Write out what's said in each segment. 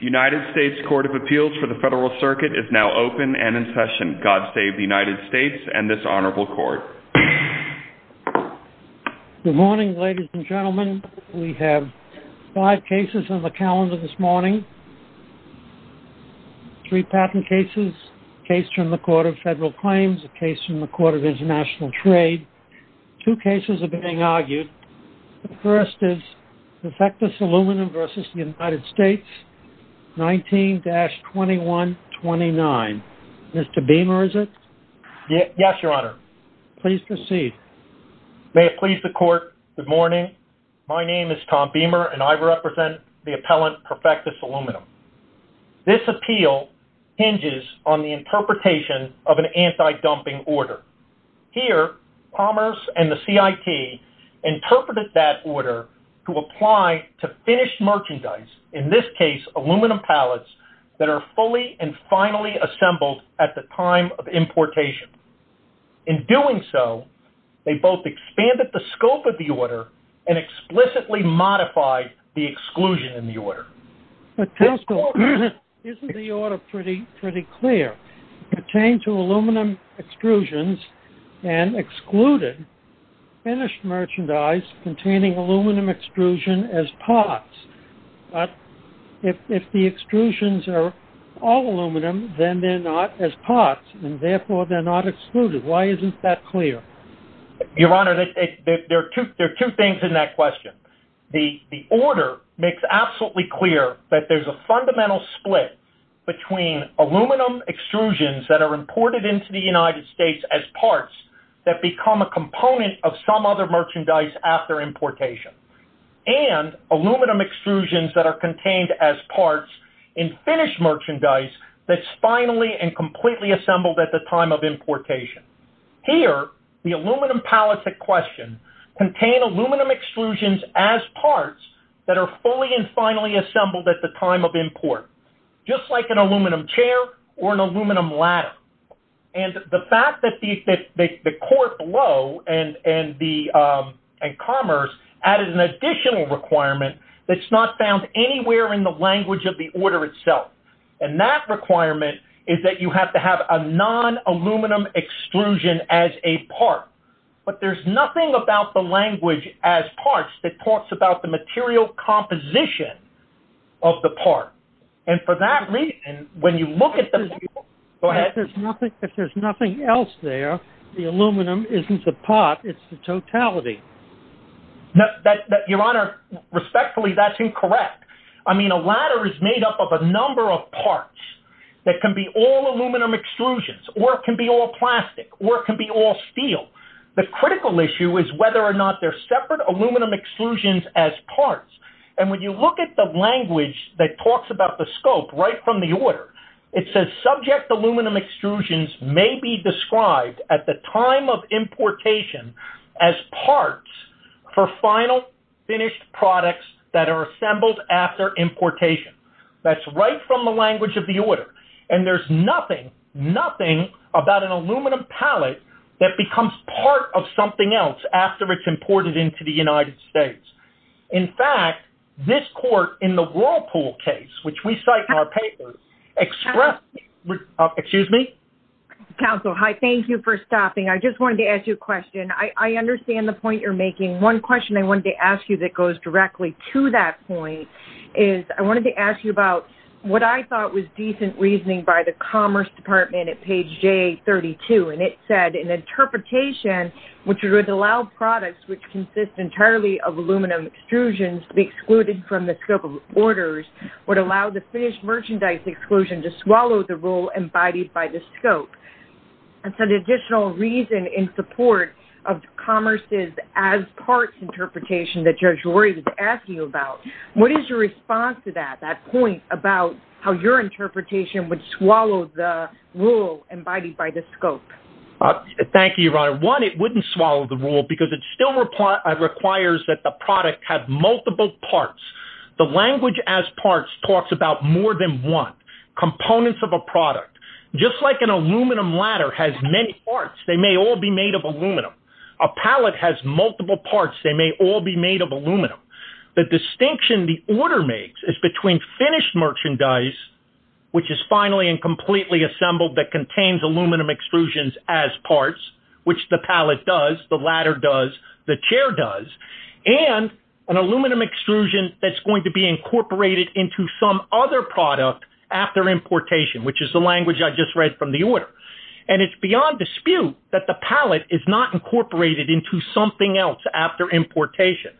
United States Court of Appeals for the Federal Circuit is now open and in session. God save the United States and this Honorable Court. Good morning, ladies and gentlemen. We have five cases on the calendar this morning. Three patent cases, a case from the Court of Federal Claims, a case from the Court of International Trade. Two cases are being argued. The first is Perfectus Aluminum v. United States, 19-2129. Mr. Beamer, is it? Yes, Your Honor. Please proceed. May it please the Court, good morning. My name is Tom Beamer and I represent the appellant, Perfectus Aluminum. This appeal hinges on the interpretation of an anti-dumping order. Here, Commerce and the CIT interpreted that order to apply to finished merchandise, in this case aluminum pallets, that are fully and finally assembled at the time of importation. In doing so, they both expanded the scope of the order and explicitly modified the exclusion in the order. First of all, isn't the order pretty clear? It pertains to aluminum extrusions and excluded finished merchandise containing aluminum extrusion as parts. But if the extrusions are all aluminum, then they're not as parts and therefore they're not excluded. Why isn't that clear? Your Honor, there are two things in that question. The order makes absolutely clear that there's a fundamental split between aluminum extrusions that are imported into the United States as parts that become a component of some other merchandise after importation and aluminum extrusions that are contained as parts in finished merchandise that's finally and completely assembled at the time of importation. Here, the aluminum pallets at question contain aluminum extrusions as parts that are fully and finally assembled at the time of import, just like an aluminum chair or an aluminum ladder. And the fact that the court below and Commerce added an additional requirement that's not found anywhere in the language of the order itself. And that requirement is that you have to have a non-aluminum extrusion as a part. But there's nothing about the language as parts that talks about the material composition of the part. And for that reason, when you look at the… If there's nothing else there, the aluminum isn't the part, it's the totality. Your Honor, respectfully, that's incorrect. I mean, a ladder is made up of a number of parts that can be all aluminum extrusions, or it can be all plastic, or it can be all steel. The critical issue is whether or not they're separate aluminum extrusions as parts. And when you look at the language that talks about the scope right from the order, it says subject aluminum extrusions may be described at the time of importation as parts for final finished products that are assembled after importation. That's right from the language of the order. And there's nothing, nothing about an aluminum pallet that becomes part of something else after it's imported into the United States. In fact, this court in the Whirlpool case, which we cite in our paper, expressed… Excuse me? Counsel, hi, thank you for stopping. I just wanted to ask you a question. I understand the point you're making. One question I wanted to ask you that goes directly to that point is I wanted to ask you about what I thought was decent reasoning by the Commerce Department at page J32. And it said an interpretation which would allow products which consist entirely of aluminum extrusions to be excluded from the scope of orders would allow the finished merchandise exclusion to swallow the rule embodied by the scope. And so the additional reason in support of Commerce's as parts interpretation that Judge Rory was asking about, what is your response to that, that point about how your interpretation would swallow the rule embodied by the scope? Thank you, Your Honor. One, it wouldn't swallow the rule because it still requires that the product have multiple parts. The language as parts talks about more than one component of a product. Just like an aluminum ladder has many parts, they may all be made of aluminum. A pallet has multiple parts. They may all be made of aluminum. The distinction the order makes is between finished merchandise, which is finally and completely assembled that contains aluminum extrusions as parts, which the pallet does, the ladder does, the chair does, and an aluminum extrusion that's going to be incorporated into some other product after importation, which is the language I just read from the order. And it's beyond dispute that the pallet is not incorporated into something else after importation.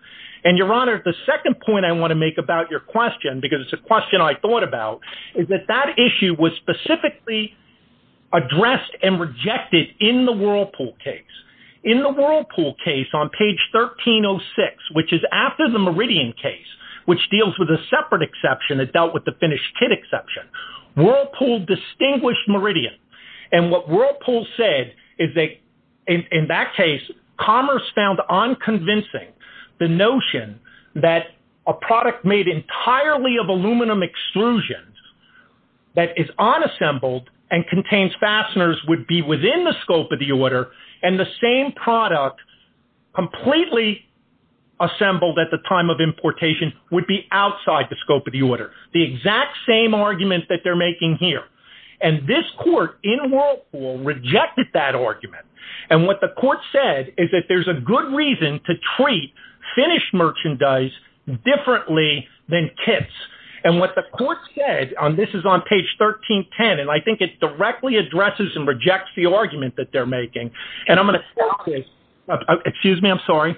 And, Your Honor, the second point I want to make about your question, because it's a question I thought about, is that that issue was specifically addressed and rejected in the Whirlpool case. In the Whirlpool case on page 1306, which is after the Meridian case, which deals with a separate exception that dealt with the finished kit exception, Whirlpool distinguished Meridian. And what Whirlpool said is that, in that case, Commerce found unconvincing the notion that a product made entirely of aluminum extrusions that is unassembled and contains fasteners would be within the scope of the order, and the same product completely assembled at the time of importation would be outside the scope of the order. The exact same argument that they're making here. And this court in Whirlpool rejected that argument. And what the court said is that there's a good reason to treat finished merchandise differently than kits. And what the court said, and this is on page 1310, and I think it directly addresses and rejects the argument that they're making. And I'm going to quote this. Excuse me, I'm sorry.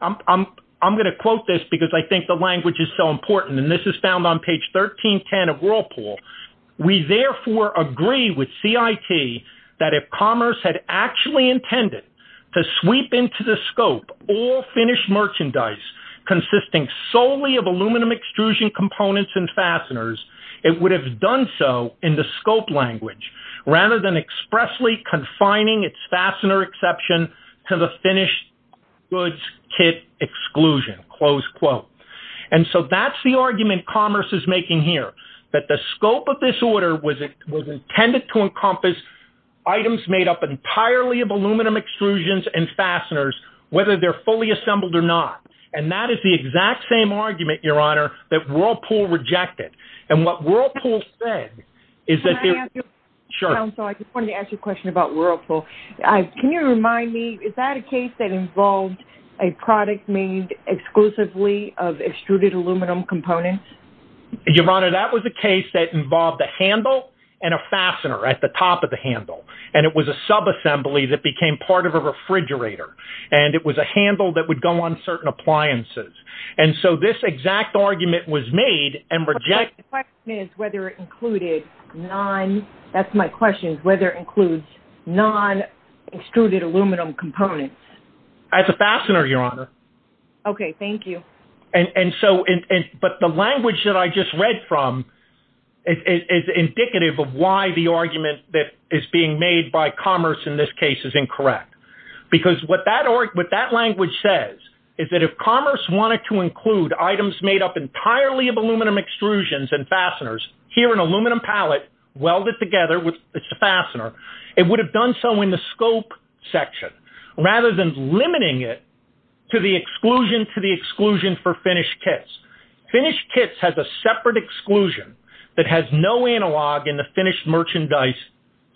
I'm going to quote this because I think the language is so important. And this is found on page 1310 of Whirlpool. We therefore agree with CIT that if Commerce had actually intended to sweep into the scope all finished merchandise consisting solely of aluminum extrusion components and fasteners, it would have done so in the scope language rather than expressly confining its fastener exception to the finished goods kit exclusion, close quote. And so that's the argument Commerce is making here, that the scope of this order was intended to encompass items made up entirely of aluminum extrusions and fasteners, whether they're fully assembled or not. And that is the exact same argument, Your Honor, that Whirlpool rejected. And what Whirlpool said is that... Can I ask you a question, counsel? Sure. I just wanted to ask you a question about Whirlpool. Can you remind me, is that a case that involved a product made exclusively of extruded aluminum components? Your Honor, that was a case that involved a handle and a fastener at the top of the handle. And it was a subassembly that became part of a refrigerator. And it was a handle that would go on certain appliances. And so this exact argument was made and rejected... The question is whether it included non... that's my question, whether it includes non-extruded aluminum components. That's a fastener, Your Honor. Okay, thank you. And so... but the language that I just read from is indicative of why the argument that is being made by Commerce in this case is incorrect. Because what that language says is that if Commerce wanted to include items made up entirely of aluminum extrusions and fasteners, here an aluminum pallet welded together, it's a fastener, it would have done so in the scope section. Rather than limiting it to the exclusion to the exclusion for finished kits. Finished kits have a separate exclusion that has no analog in the finished merchandise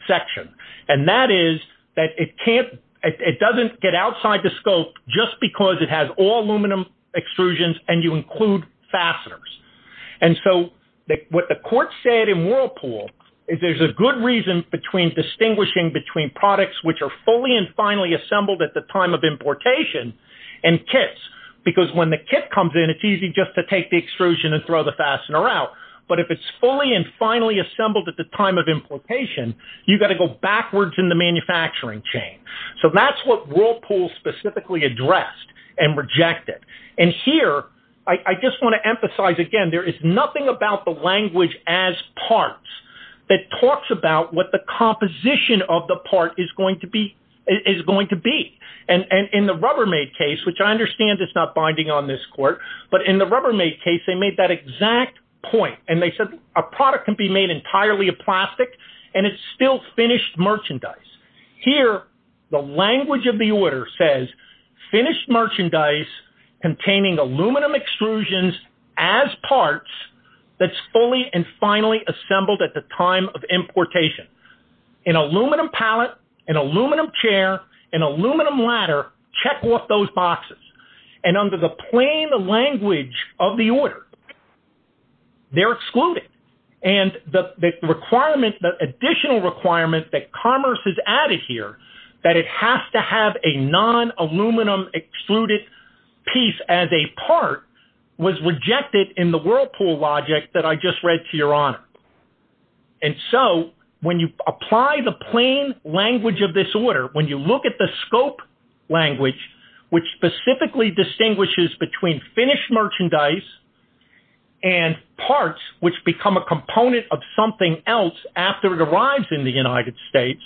section. And that is that it can't... it doesn't get outside the scope just because it has all aluminum extrusions and you include fasteners. And so what the court said in Whirlpool is there's a good reason between distinguishing between products which are fully and finally assembled at the time of importation and kits. Because when the kit comes in, it's easy just to take the extrusion and throw the fastener out. But if it's fully and finally assembled at the time of importation, you've got to go backwards in the manufacturing chain. So that's what Whirlpool specifically addressed and rejected. And here, I just want to emphasize again, there is nothing about the language as parts that talks about what the composition of the part is going to be. And in the Rubbermaid case, which I understand is not binding on this court, but in the Rubbermaid case, they made that exact point. And they said a product can be made entirely of plastic and it's still finished merchandise. Here, the language of the order says, finished merchandise containing aluminum extrusions as parts that's fully and finally assembled at the time of importation. An aluminum pallet, an aluminum chair, an aluminum ladder, check off those boxes. And under the plain language of the order, they're excluded. And the requirement, the additional requirement that commerce is added here, that it has to have a non-aluminum excluded piece as a part, was rejected in the Whirlpool logic that I just read to your honor. And so, when you apply the plain language of this order, when you look at the scope language, which specifically distinguishes between finished merchandise and parts which become a component of something else after it arrives in the United States,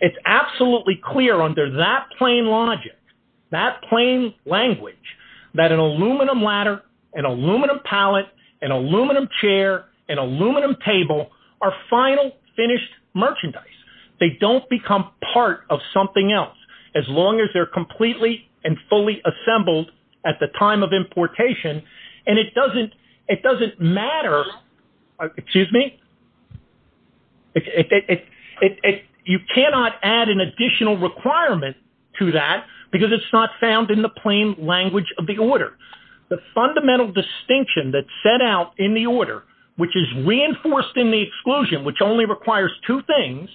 it's absolutely clear under that plain logic, that plain language, that an aluminum ladder, an aluminum pallet, an aluminum chair, an aluminum table are final, finished merchandise. They don't become part of something else as long as they're completely and fully assembled at the time of importation. And it doesn't matter, excuse me, you cannot add an additional requirement to that because it's not found in the plain language of the order. The fundamental distinction that's set out in the order, which is reinforced in the exclusion, which only requires two things,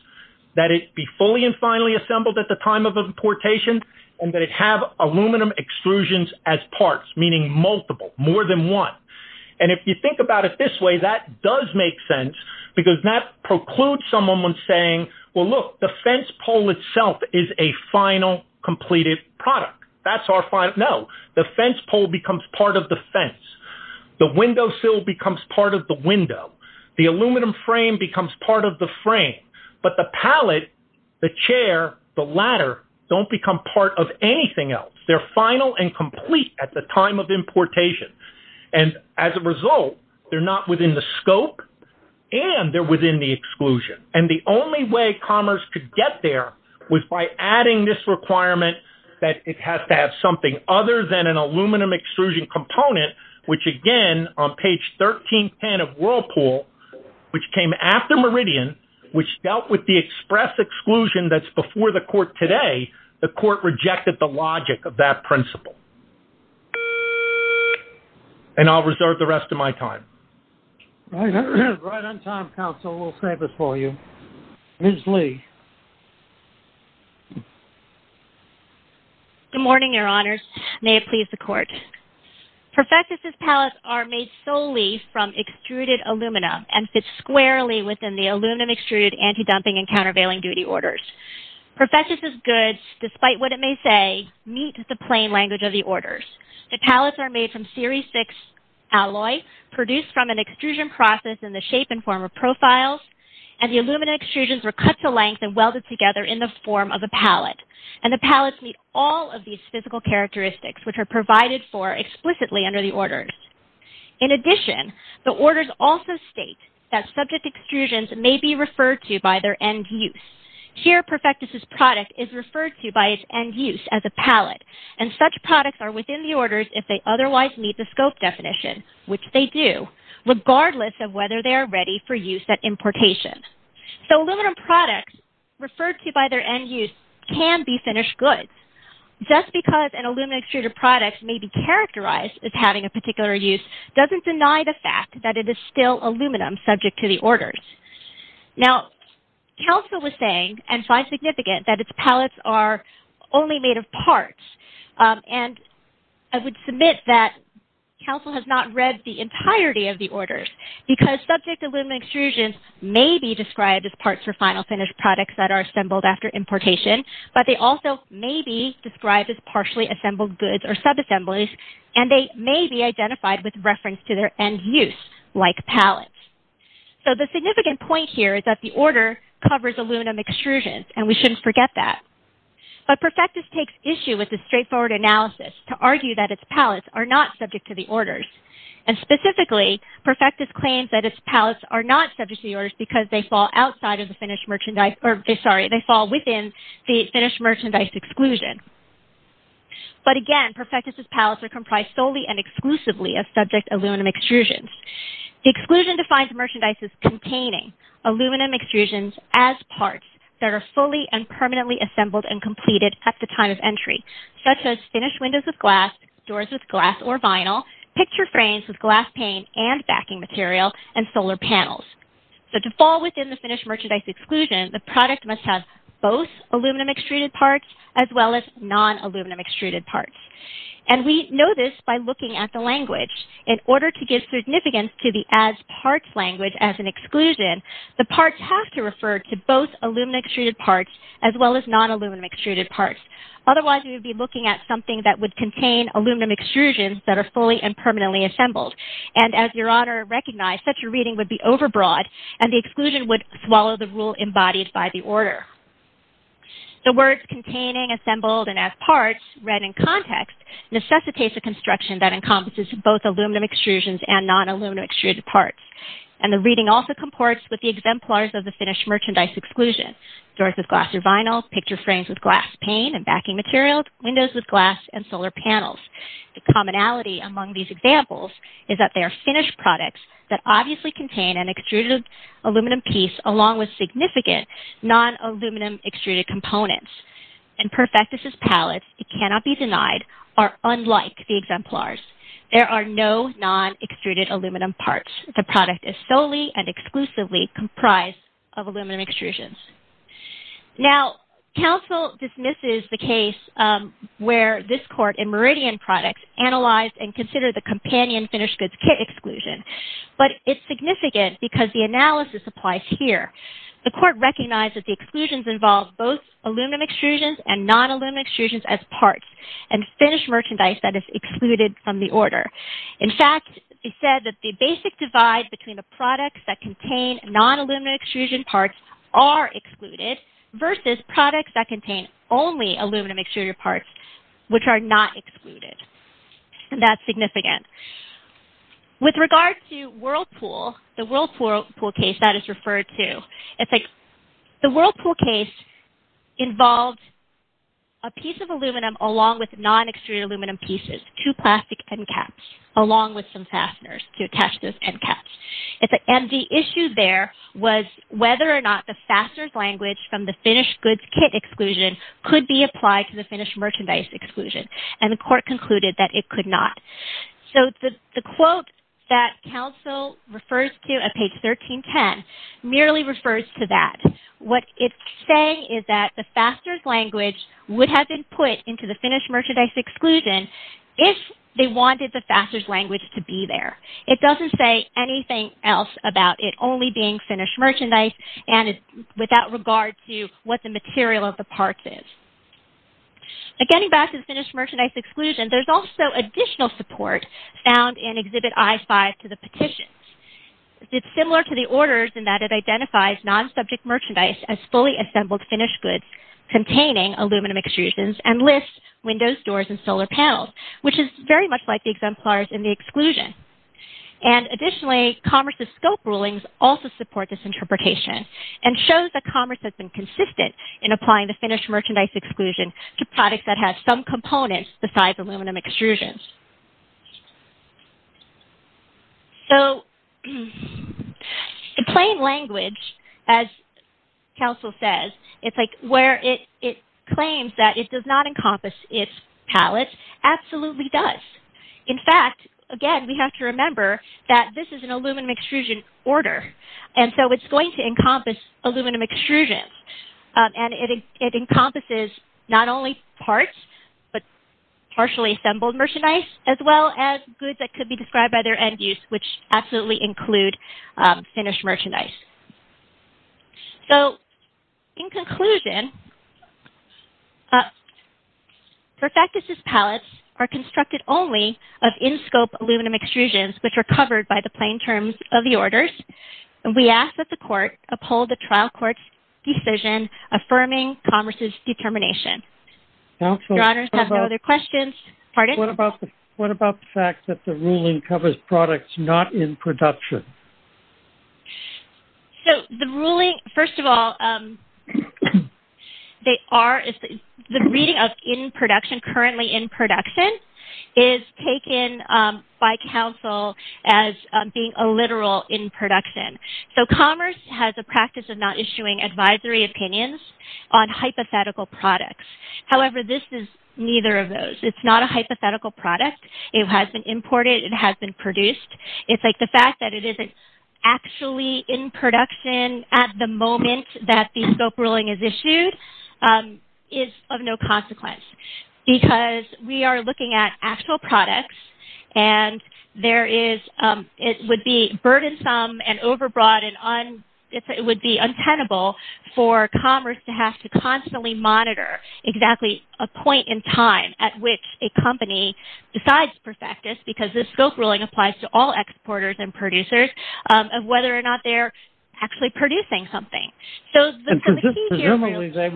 that it be fully and finally assembled at the time of importation, and that it have aluminum exclusions as parts, meaning multiple, more than one. And if you think about it this way, that does make sense because that precludes someone from saying, well look, the fence pole itself is a final, completed product. That's our final, no, the fence pole becomes part of the fence. The windowsill becomes part of the window. The aluminum frame becomes part of the frame. But the pallet, the chair, the ladder, don't become part of anything else. They're final and complete at the time of importation. And as a result, they're not within the scope and they're within the exclusion. And the only way commerce could get there was by adding this requirement that it has to have something other than an aluminum exclusion component, which again, on page 1310 of Whirlpool, which came after Meridian, which dealt with the express exclusion that's before the court today, the court rejected the logic of that principle. And I'll reserve the rest of my time. Right on time, counsel, we'll save it for you. Ms. Lee. Good morning, your honors. May it please the court. Perfectus's pallets are made solely from extruded alumina and fit squarely within the aluminum extruded anti-dumping and countervailing duty orders. Perfectus's goods, despite what it may say, meet the plain language of the orders. The pallets are made from series six alloy, produced from an extrusion process in the shape and form of profiles. And the alumina extrusions were cut to length and welded together in the form of a pallet. And the pallets meet all of these physical characteristics, which are provided for explicitly under the orders. In addition, the orders also state that subject extrusions may be referred to by their end use. Here, Perfectus's product is referred to by its end use as a pallet. And such products are within the orders if they otherwise meet the scope definition, which they do, regardless of whether they are ready for use at importation. So aluminum products referred to by their end use can be finished goods. Just because an alumina extruded product may be characterized as having a particular use doesn't deny the fact that it is still aluminum subject to the orders. Now, Council was saying, and quite significant, that its pallets are only made of parts. And I would submit that Council has not read the entirety of the orders, because subject alumina extrusions may be described as parts for final finished products that are assembled after importation, but they also may be described as partially assembled goods or subassemblies, and they may be identified with reference to their end use, like pallets. So the significant point here is that the order covers aluminum extrusions, and we shouldn't forget that. But Perfectus takes issue with this straightforward analysis to argue that its pallets are not subject to the orders. And specifically, Perfectus claims that its pallets are not subject to the orders because they fall within the finished merchandise exclusion. But again, Perfectus's pallets are comprised solely and exclusively of subject aluminum extrusions. The exclusion defines merchandises containing aluminum extrusions as parts that are fully and permanently assembled and completed at the time of entry, such as finished windows with glass, doors with glass or vinyl, picture frames with glass pane and backing material, and solar panels. So to fall within the finished merchandise exclusion, the product must have both aluminum extruded parts as well as non-aluminum extruded parts. And we know this by looking at the language. In order to give significance to the as parts language as an exclusion, the parts have to refer to both aluminum extruded parts as well as non-aluminum extruded parts. Otherwise, we would be looking at something that would contain aluminum extrusions that are fully and permanently assembled. And as Your Honor recognized, such a reading would be overbroad, and the exclusion would swallow the rule embodied by the order. The words containing, assembled, and as parts read in context necessitates a construction that encompasses both aluminum extrusions and non-aluminum extruded parts. And the reading also comports with the exemplars of the finished merchandise exclusion. Doors with glass or vinyl, picture frames with glass pane and backing material, windows with glass, and solar panels. The commonality among these examples is that they are finished products that obviously contain an extruded aluminum piece along with significant non-aluminum extruded components. And Perfectus' pallets, it cannot be denied, are unlike the exemplars. There are no non-extruded aluminum parts. The product is solely and exclusively comprised of aluminum extrusions. Now, counsel dismisses the case where this court in Meridian Products analyzed and considered the companion finished goods kit exclusion. But it's significant because the analysis applies here. The court recognized that the exclusions involve both aluminum extrusions and non-aluminum extrusions as parts and finished merchandise that is excluded from the order. In fact, it said that the basic divide between the products that contain non-aluminum extrusion parts are excluded versus products that contain only aluminum extruded parts, which are not excluded. And that's significant. With regard to Whirlpool, the Whirlpool case that is referred to, it's like the Whirlpool case involved a piece of aluminum along with non-extruded aluminum pieces, two plastic end caps, along with some fasteners to attach those end caps. And the issue there was whether or not the fastener's language from the finished goods kit exclusion could be applied to the finished merchandise exclusion. And the court concluded that it could not. So the quote that counsel refers to at page 1310 merely refers to that. What it's saying is that the fastener's language would have been put into the finished merchandise exclusion if they wanted the fastener's language to be there. It doesn't say anything else about it only being finished merchandise and without regard to what the material of the parts is. Getting back to the finished merchandise exclusion, there's also additional support found in Exhibit I-5 to the petition. It's similar to the orders in that it identifies non-subject merchandise as fully assembled finished goods containing aluminum extrusions and lists windows, doors, and solar panels, which is very much like the exemplars in the exclusion. And additionally, Commerce's scope rulings also support this interpretation and shows that Commerce has been consistent in applying the finished merchandise exclusion to products that have some components besides aluminum extrusions. So, in plain language, as counsel says, where it claims that it does not encompass its pallets, absolutely does. In fact, again, we have to remember that this is an aluminum extrusion order. And so it's going to encompass aluminum extrusions. And it encompasses not only parts, but partially assembled merchandise as well as goods that could be described by their end use, which absolutely include finished merchandise. So, in conclusion, Perfectus's pallets are constructed only of in-scope aluminum extrusions which are covered by the plain terms of the orders. And we ask that the court uphold the trial court's decision affirming Commerce's determination. Your honors have no other questions. Pardon? What about the fact that the ruling covers products not in production? So, the ruling, first of all, they are, the reading of in production, currently in production is taken by counsel as being a literal in production. So, Commerce has a practice of not issuing advisory opinions on hypothetical products. However, this is neither of those. It's not a hypothetical product. It has been imported. It has been produced. It's like the fact that it isn't actually in production at the moment that the scope ruling is issued is of no consequence because we are looking at actual products. And there is, it would be burdensome and overbroad and it would be untenable for Commerce to have to constantly monitor exactly a point in time at which a company decides Perfectus because the scope ruling applies to all exporters and producers of whether or not they're actually producing something. So, the key here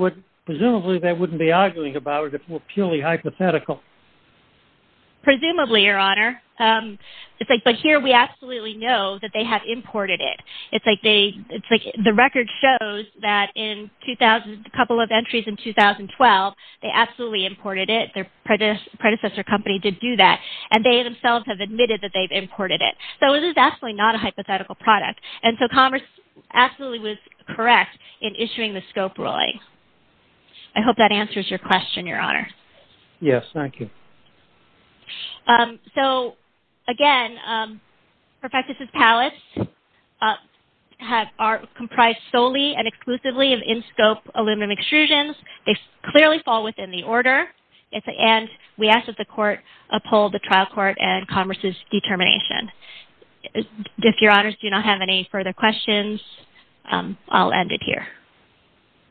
is… Presumably, they wouldn't be arguing about it. It's purely hypothetical. Presumably, Your Honor. It's like here we absolutely know that they have imported it. It's like they, it's like the record shows that in 2000, a couple of entries in 2012, they absolutely imported it. Their predecessor company did do that and they themselves have admitted that they've imported it. So, it is absolutely not a hypothetical product. And so, Commerce absolutely was correct in issuing the scope ruling. I hope that answers your question, Your Honor. Yes. Thank you. So, again, Perfectus' pallets are comprised solely and exclusively of in-scope aluminum extrusions. They clearly fall within the order. And we ask that the court uphold the trial court and Commerce's determination. If Your Honors do not have any further questions, I'll end it here.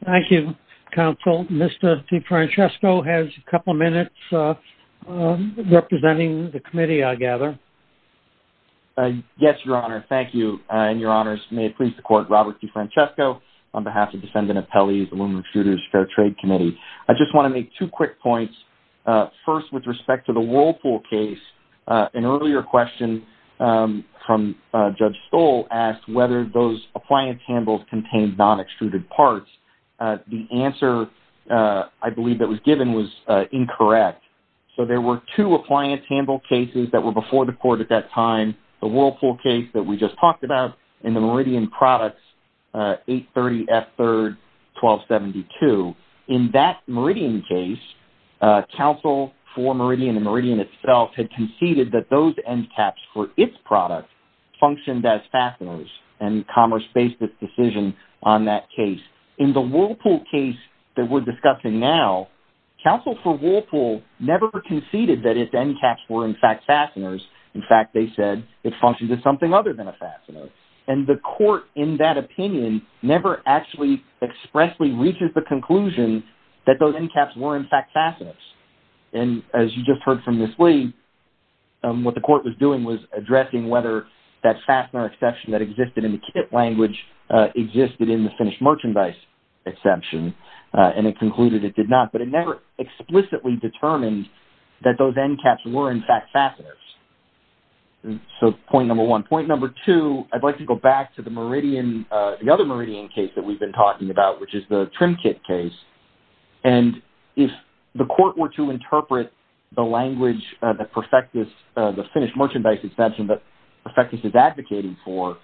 Thank you, Counsel. Mr. DeFrancesco has a couple of minutes representing the committee, I gather. Yes, Your Honor. Thank you. And Your Honors, may it please the court, Robert DeFrancesco, on behalf of the Defendant Appellees, Aluminum Extruders, Fair Trade Committee. I just want to make two quick points. First, with respect to the Whirlpool case, an earlier question from Judge Stoll asked whether those appliance handles contained non-extruded parts. The answer, I believe, that was given was incorrect. So there were two appliance handle cases that were before the court at that time, the Whirlpool case that we just talked about, and the Meridian Products 830F3-1272. In that Meridian case, Counsel for Meridian and Meridian itself had conceded that those end caps for its products functioned as fasteners, and Commerce based its decision on that case. In the Whirlpool case that we're discussing now, Counsel for Whirlpool never conceded that its end caps were, in fact, fasteners. In fact, they said it functioned as something other than a fastener. And the court, in that opinion, never actually expressly reaches the conclusion that those end caps were, in fact, fasteners. And as you just heard from Ms. Lee, what the court was doing was addressing whether that fastener exception that existed in the kit language existed in the finished merchandise exception, and it concluded it did not. But it never explicitly determined that those end caps were, in fact, fasteners. So point number one. Point number two, I'd like to go back to the Meridian, the other Meridian case that we've been talking about, which is the trim kit case. And if the court were to interpret the language that Perfectus, the finished merchandise exception that Perfectus is advocating for,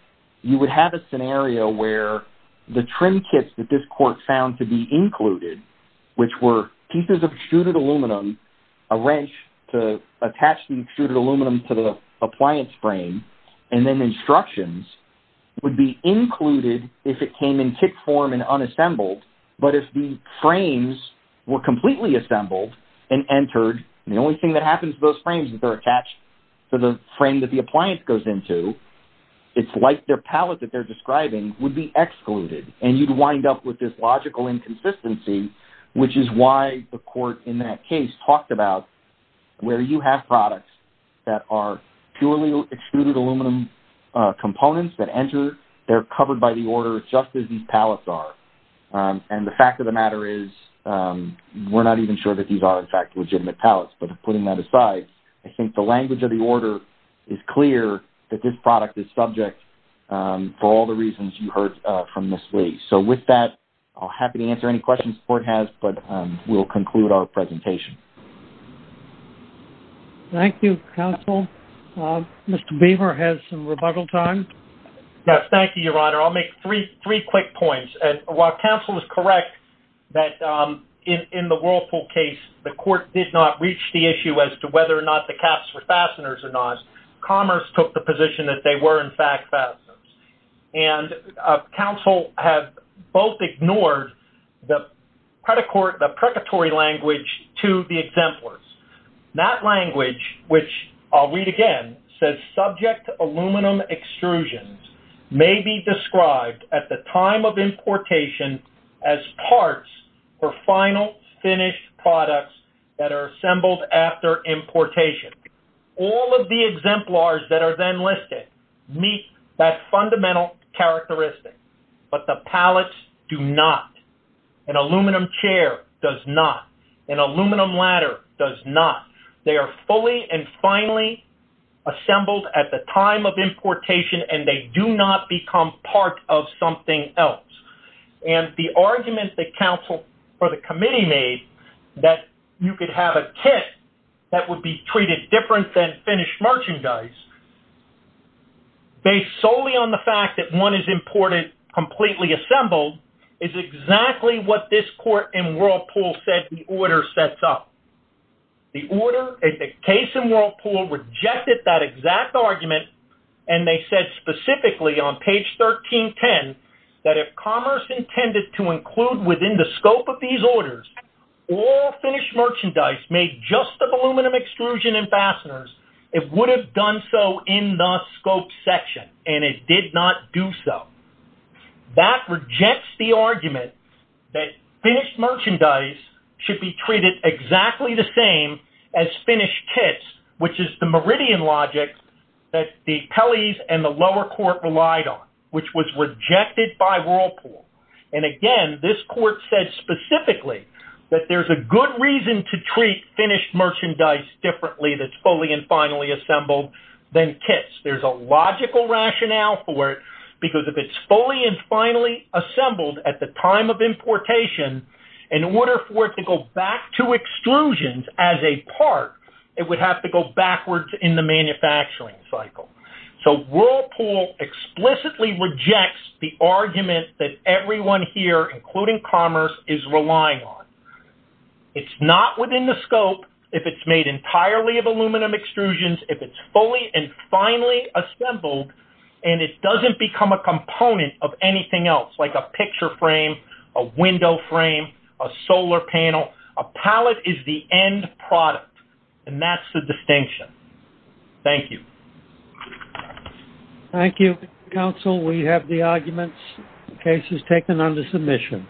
you would have a scenario where the trim kits that this court found to be included, which were pieces of extruded aluminum, a wrench to attach the extruded aluminum to the appliance frame, and then instructions would be included if it came in kit form and unassembled. But if the frames were completely assembled and entered, and the only thing that happens to those frames is they're attached to the frame that the appliance goes into, it's like their pallet that they're describing would be excluded. And you'd wind up with this logical inconsistency, which is why the court in that case talked about where you have products that are purely extruded aluminum components that enter, they're covered by the order just as these pallets are. And the fact of the matter is we're not even sure that these are, in fact, legitimate pallets, but putting that aside, I think the language of the order is clear that this product is subject for all the reasons you heard from Ms. Lee. So with that, I'm happy to answer any questions the court has, but we'll conclude our presentation. Thank you, counsel. Mr. Beaver has some rebuttal time. Yes, thank you, Your Honor. I'll make three quick points. While counsel is correct that in the Whirlpool case, the court did not reach the issue as to whether or not the caps were fasteners or not, because Commerce took the position that they were, in fact, fasteners. And counsel have both ignored the predatory language to the exemplars. That language, which I'll read again, says, subject aluminum extrusions may be described at the time of importation as parts for final finished products that are assembled after importation. All of the exemplars that are then listed meet that fundamental characteristic, but the pallets do not. An aluminum chair does not. An aluminum ladder does not. They are fully and finally assembled at the time of importation, and they do not become part of something else. And the argument that counsel or the committee made that you could have a kit that would be treated different than finished merchandise, based solely on the fact that one is imported completely assembled, is exactly what this court in Whirlpool said the order sets up. The case in Whirlpool rejected that exact argument, and they said specifically on page 1310, that if Commerce intended to include within the scope of these orders all finished merchandise made just of aluminum extrusion and fasteners, it would have done so in the scope section, and it did not do so. That rejects the argument that finished merchandise should be treated exactly the same as finished kits, which is the meridian logic that the Pelley's and the lower court relied on, which was rejected by Whirlpool. And again, this court said specifically that there's a good reason to treat finished merchandise differently that's fully and finally assembled than kits. There's a logical rationale for it, because if it's fully and finally assembled at the time of importation, in order for it to go back to extrusions as a part, it would have to go backwards in the manufacturing cycle. So Whirlpool explicitly rejects the argument that everyone here, including Commerce, is relying on. It's not within the scope if it's made entirely of aluminum extrusions, if it's fully and finally assembled, and it doesn't become a component of anything else, like a picture frame, a window frame, a solar panel. A pallet is the end product, and that's the distinction. Thank you. Thank you, counsel. We have the arguments and cases taken under submission.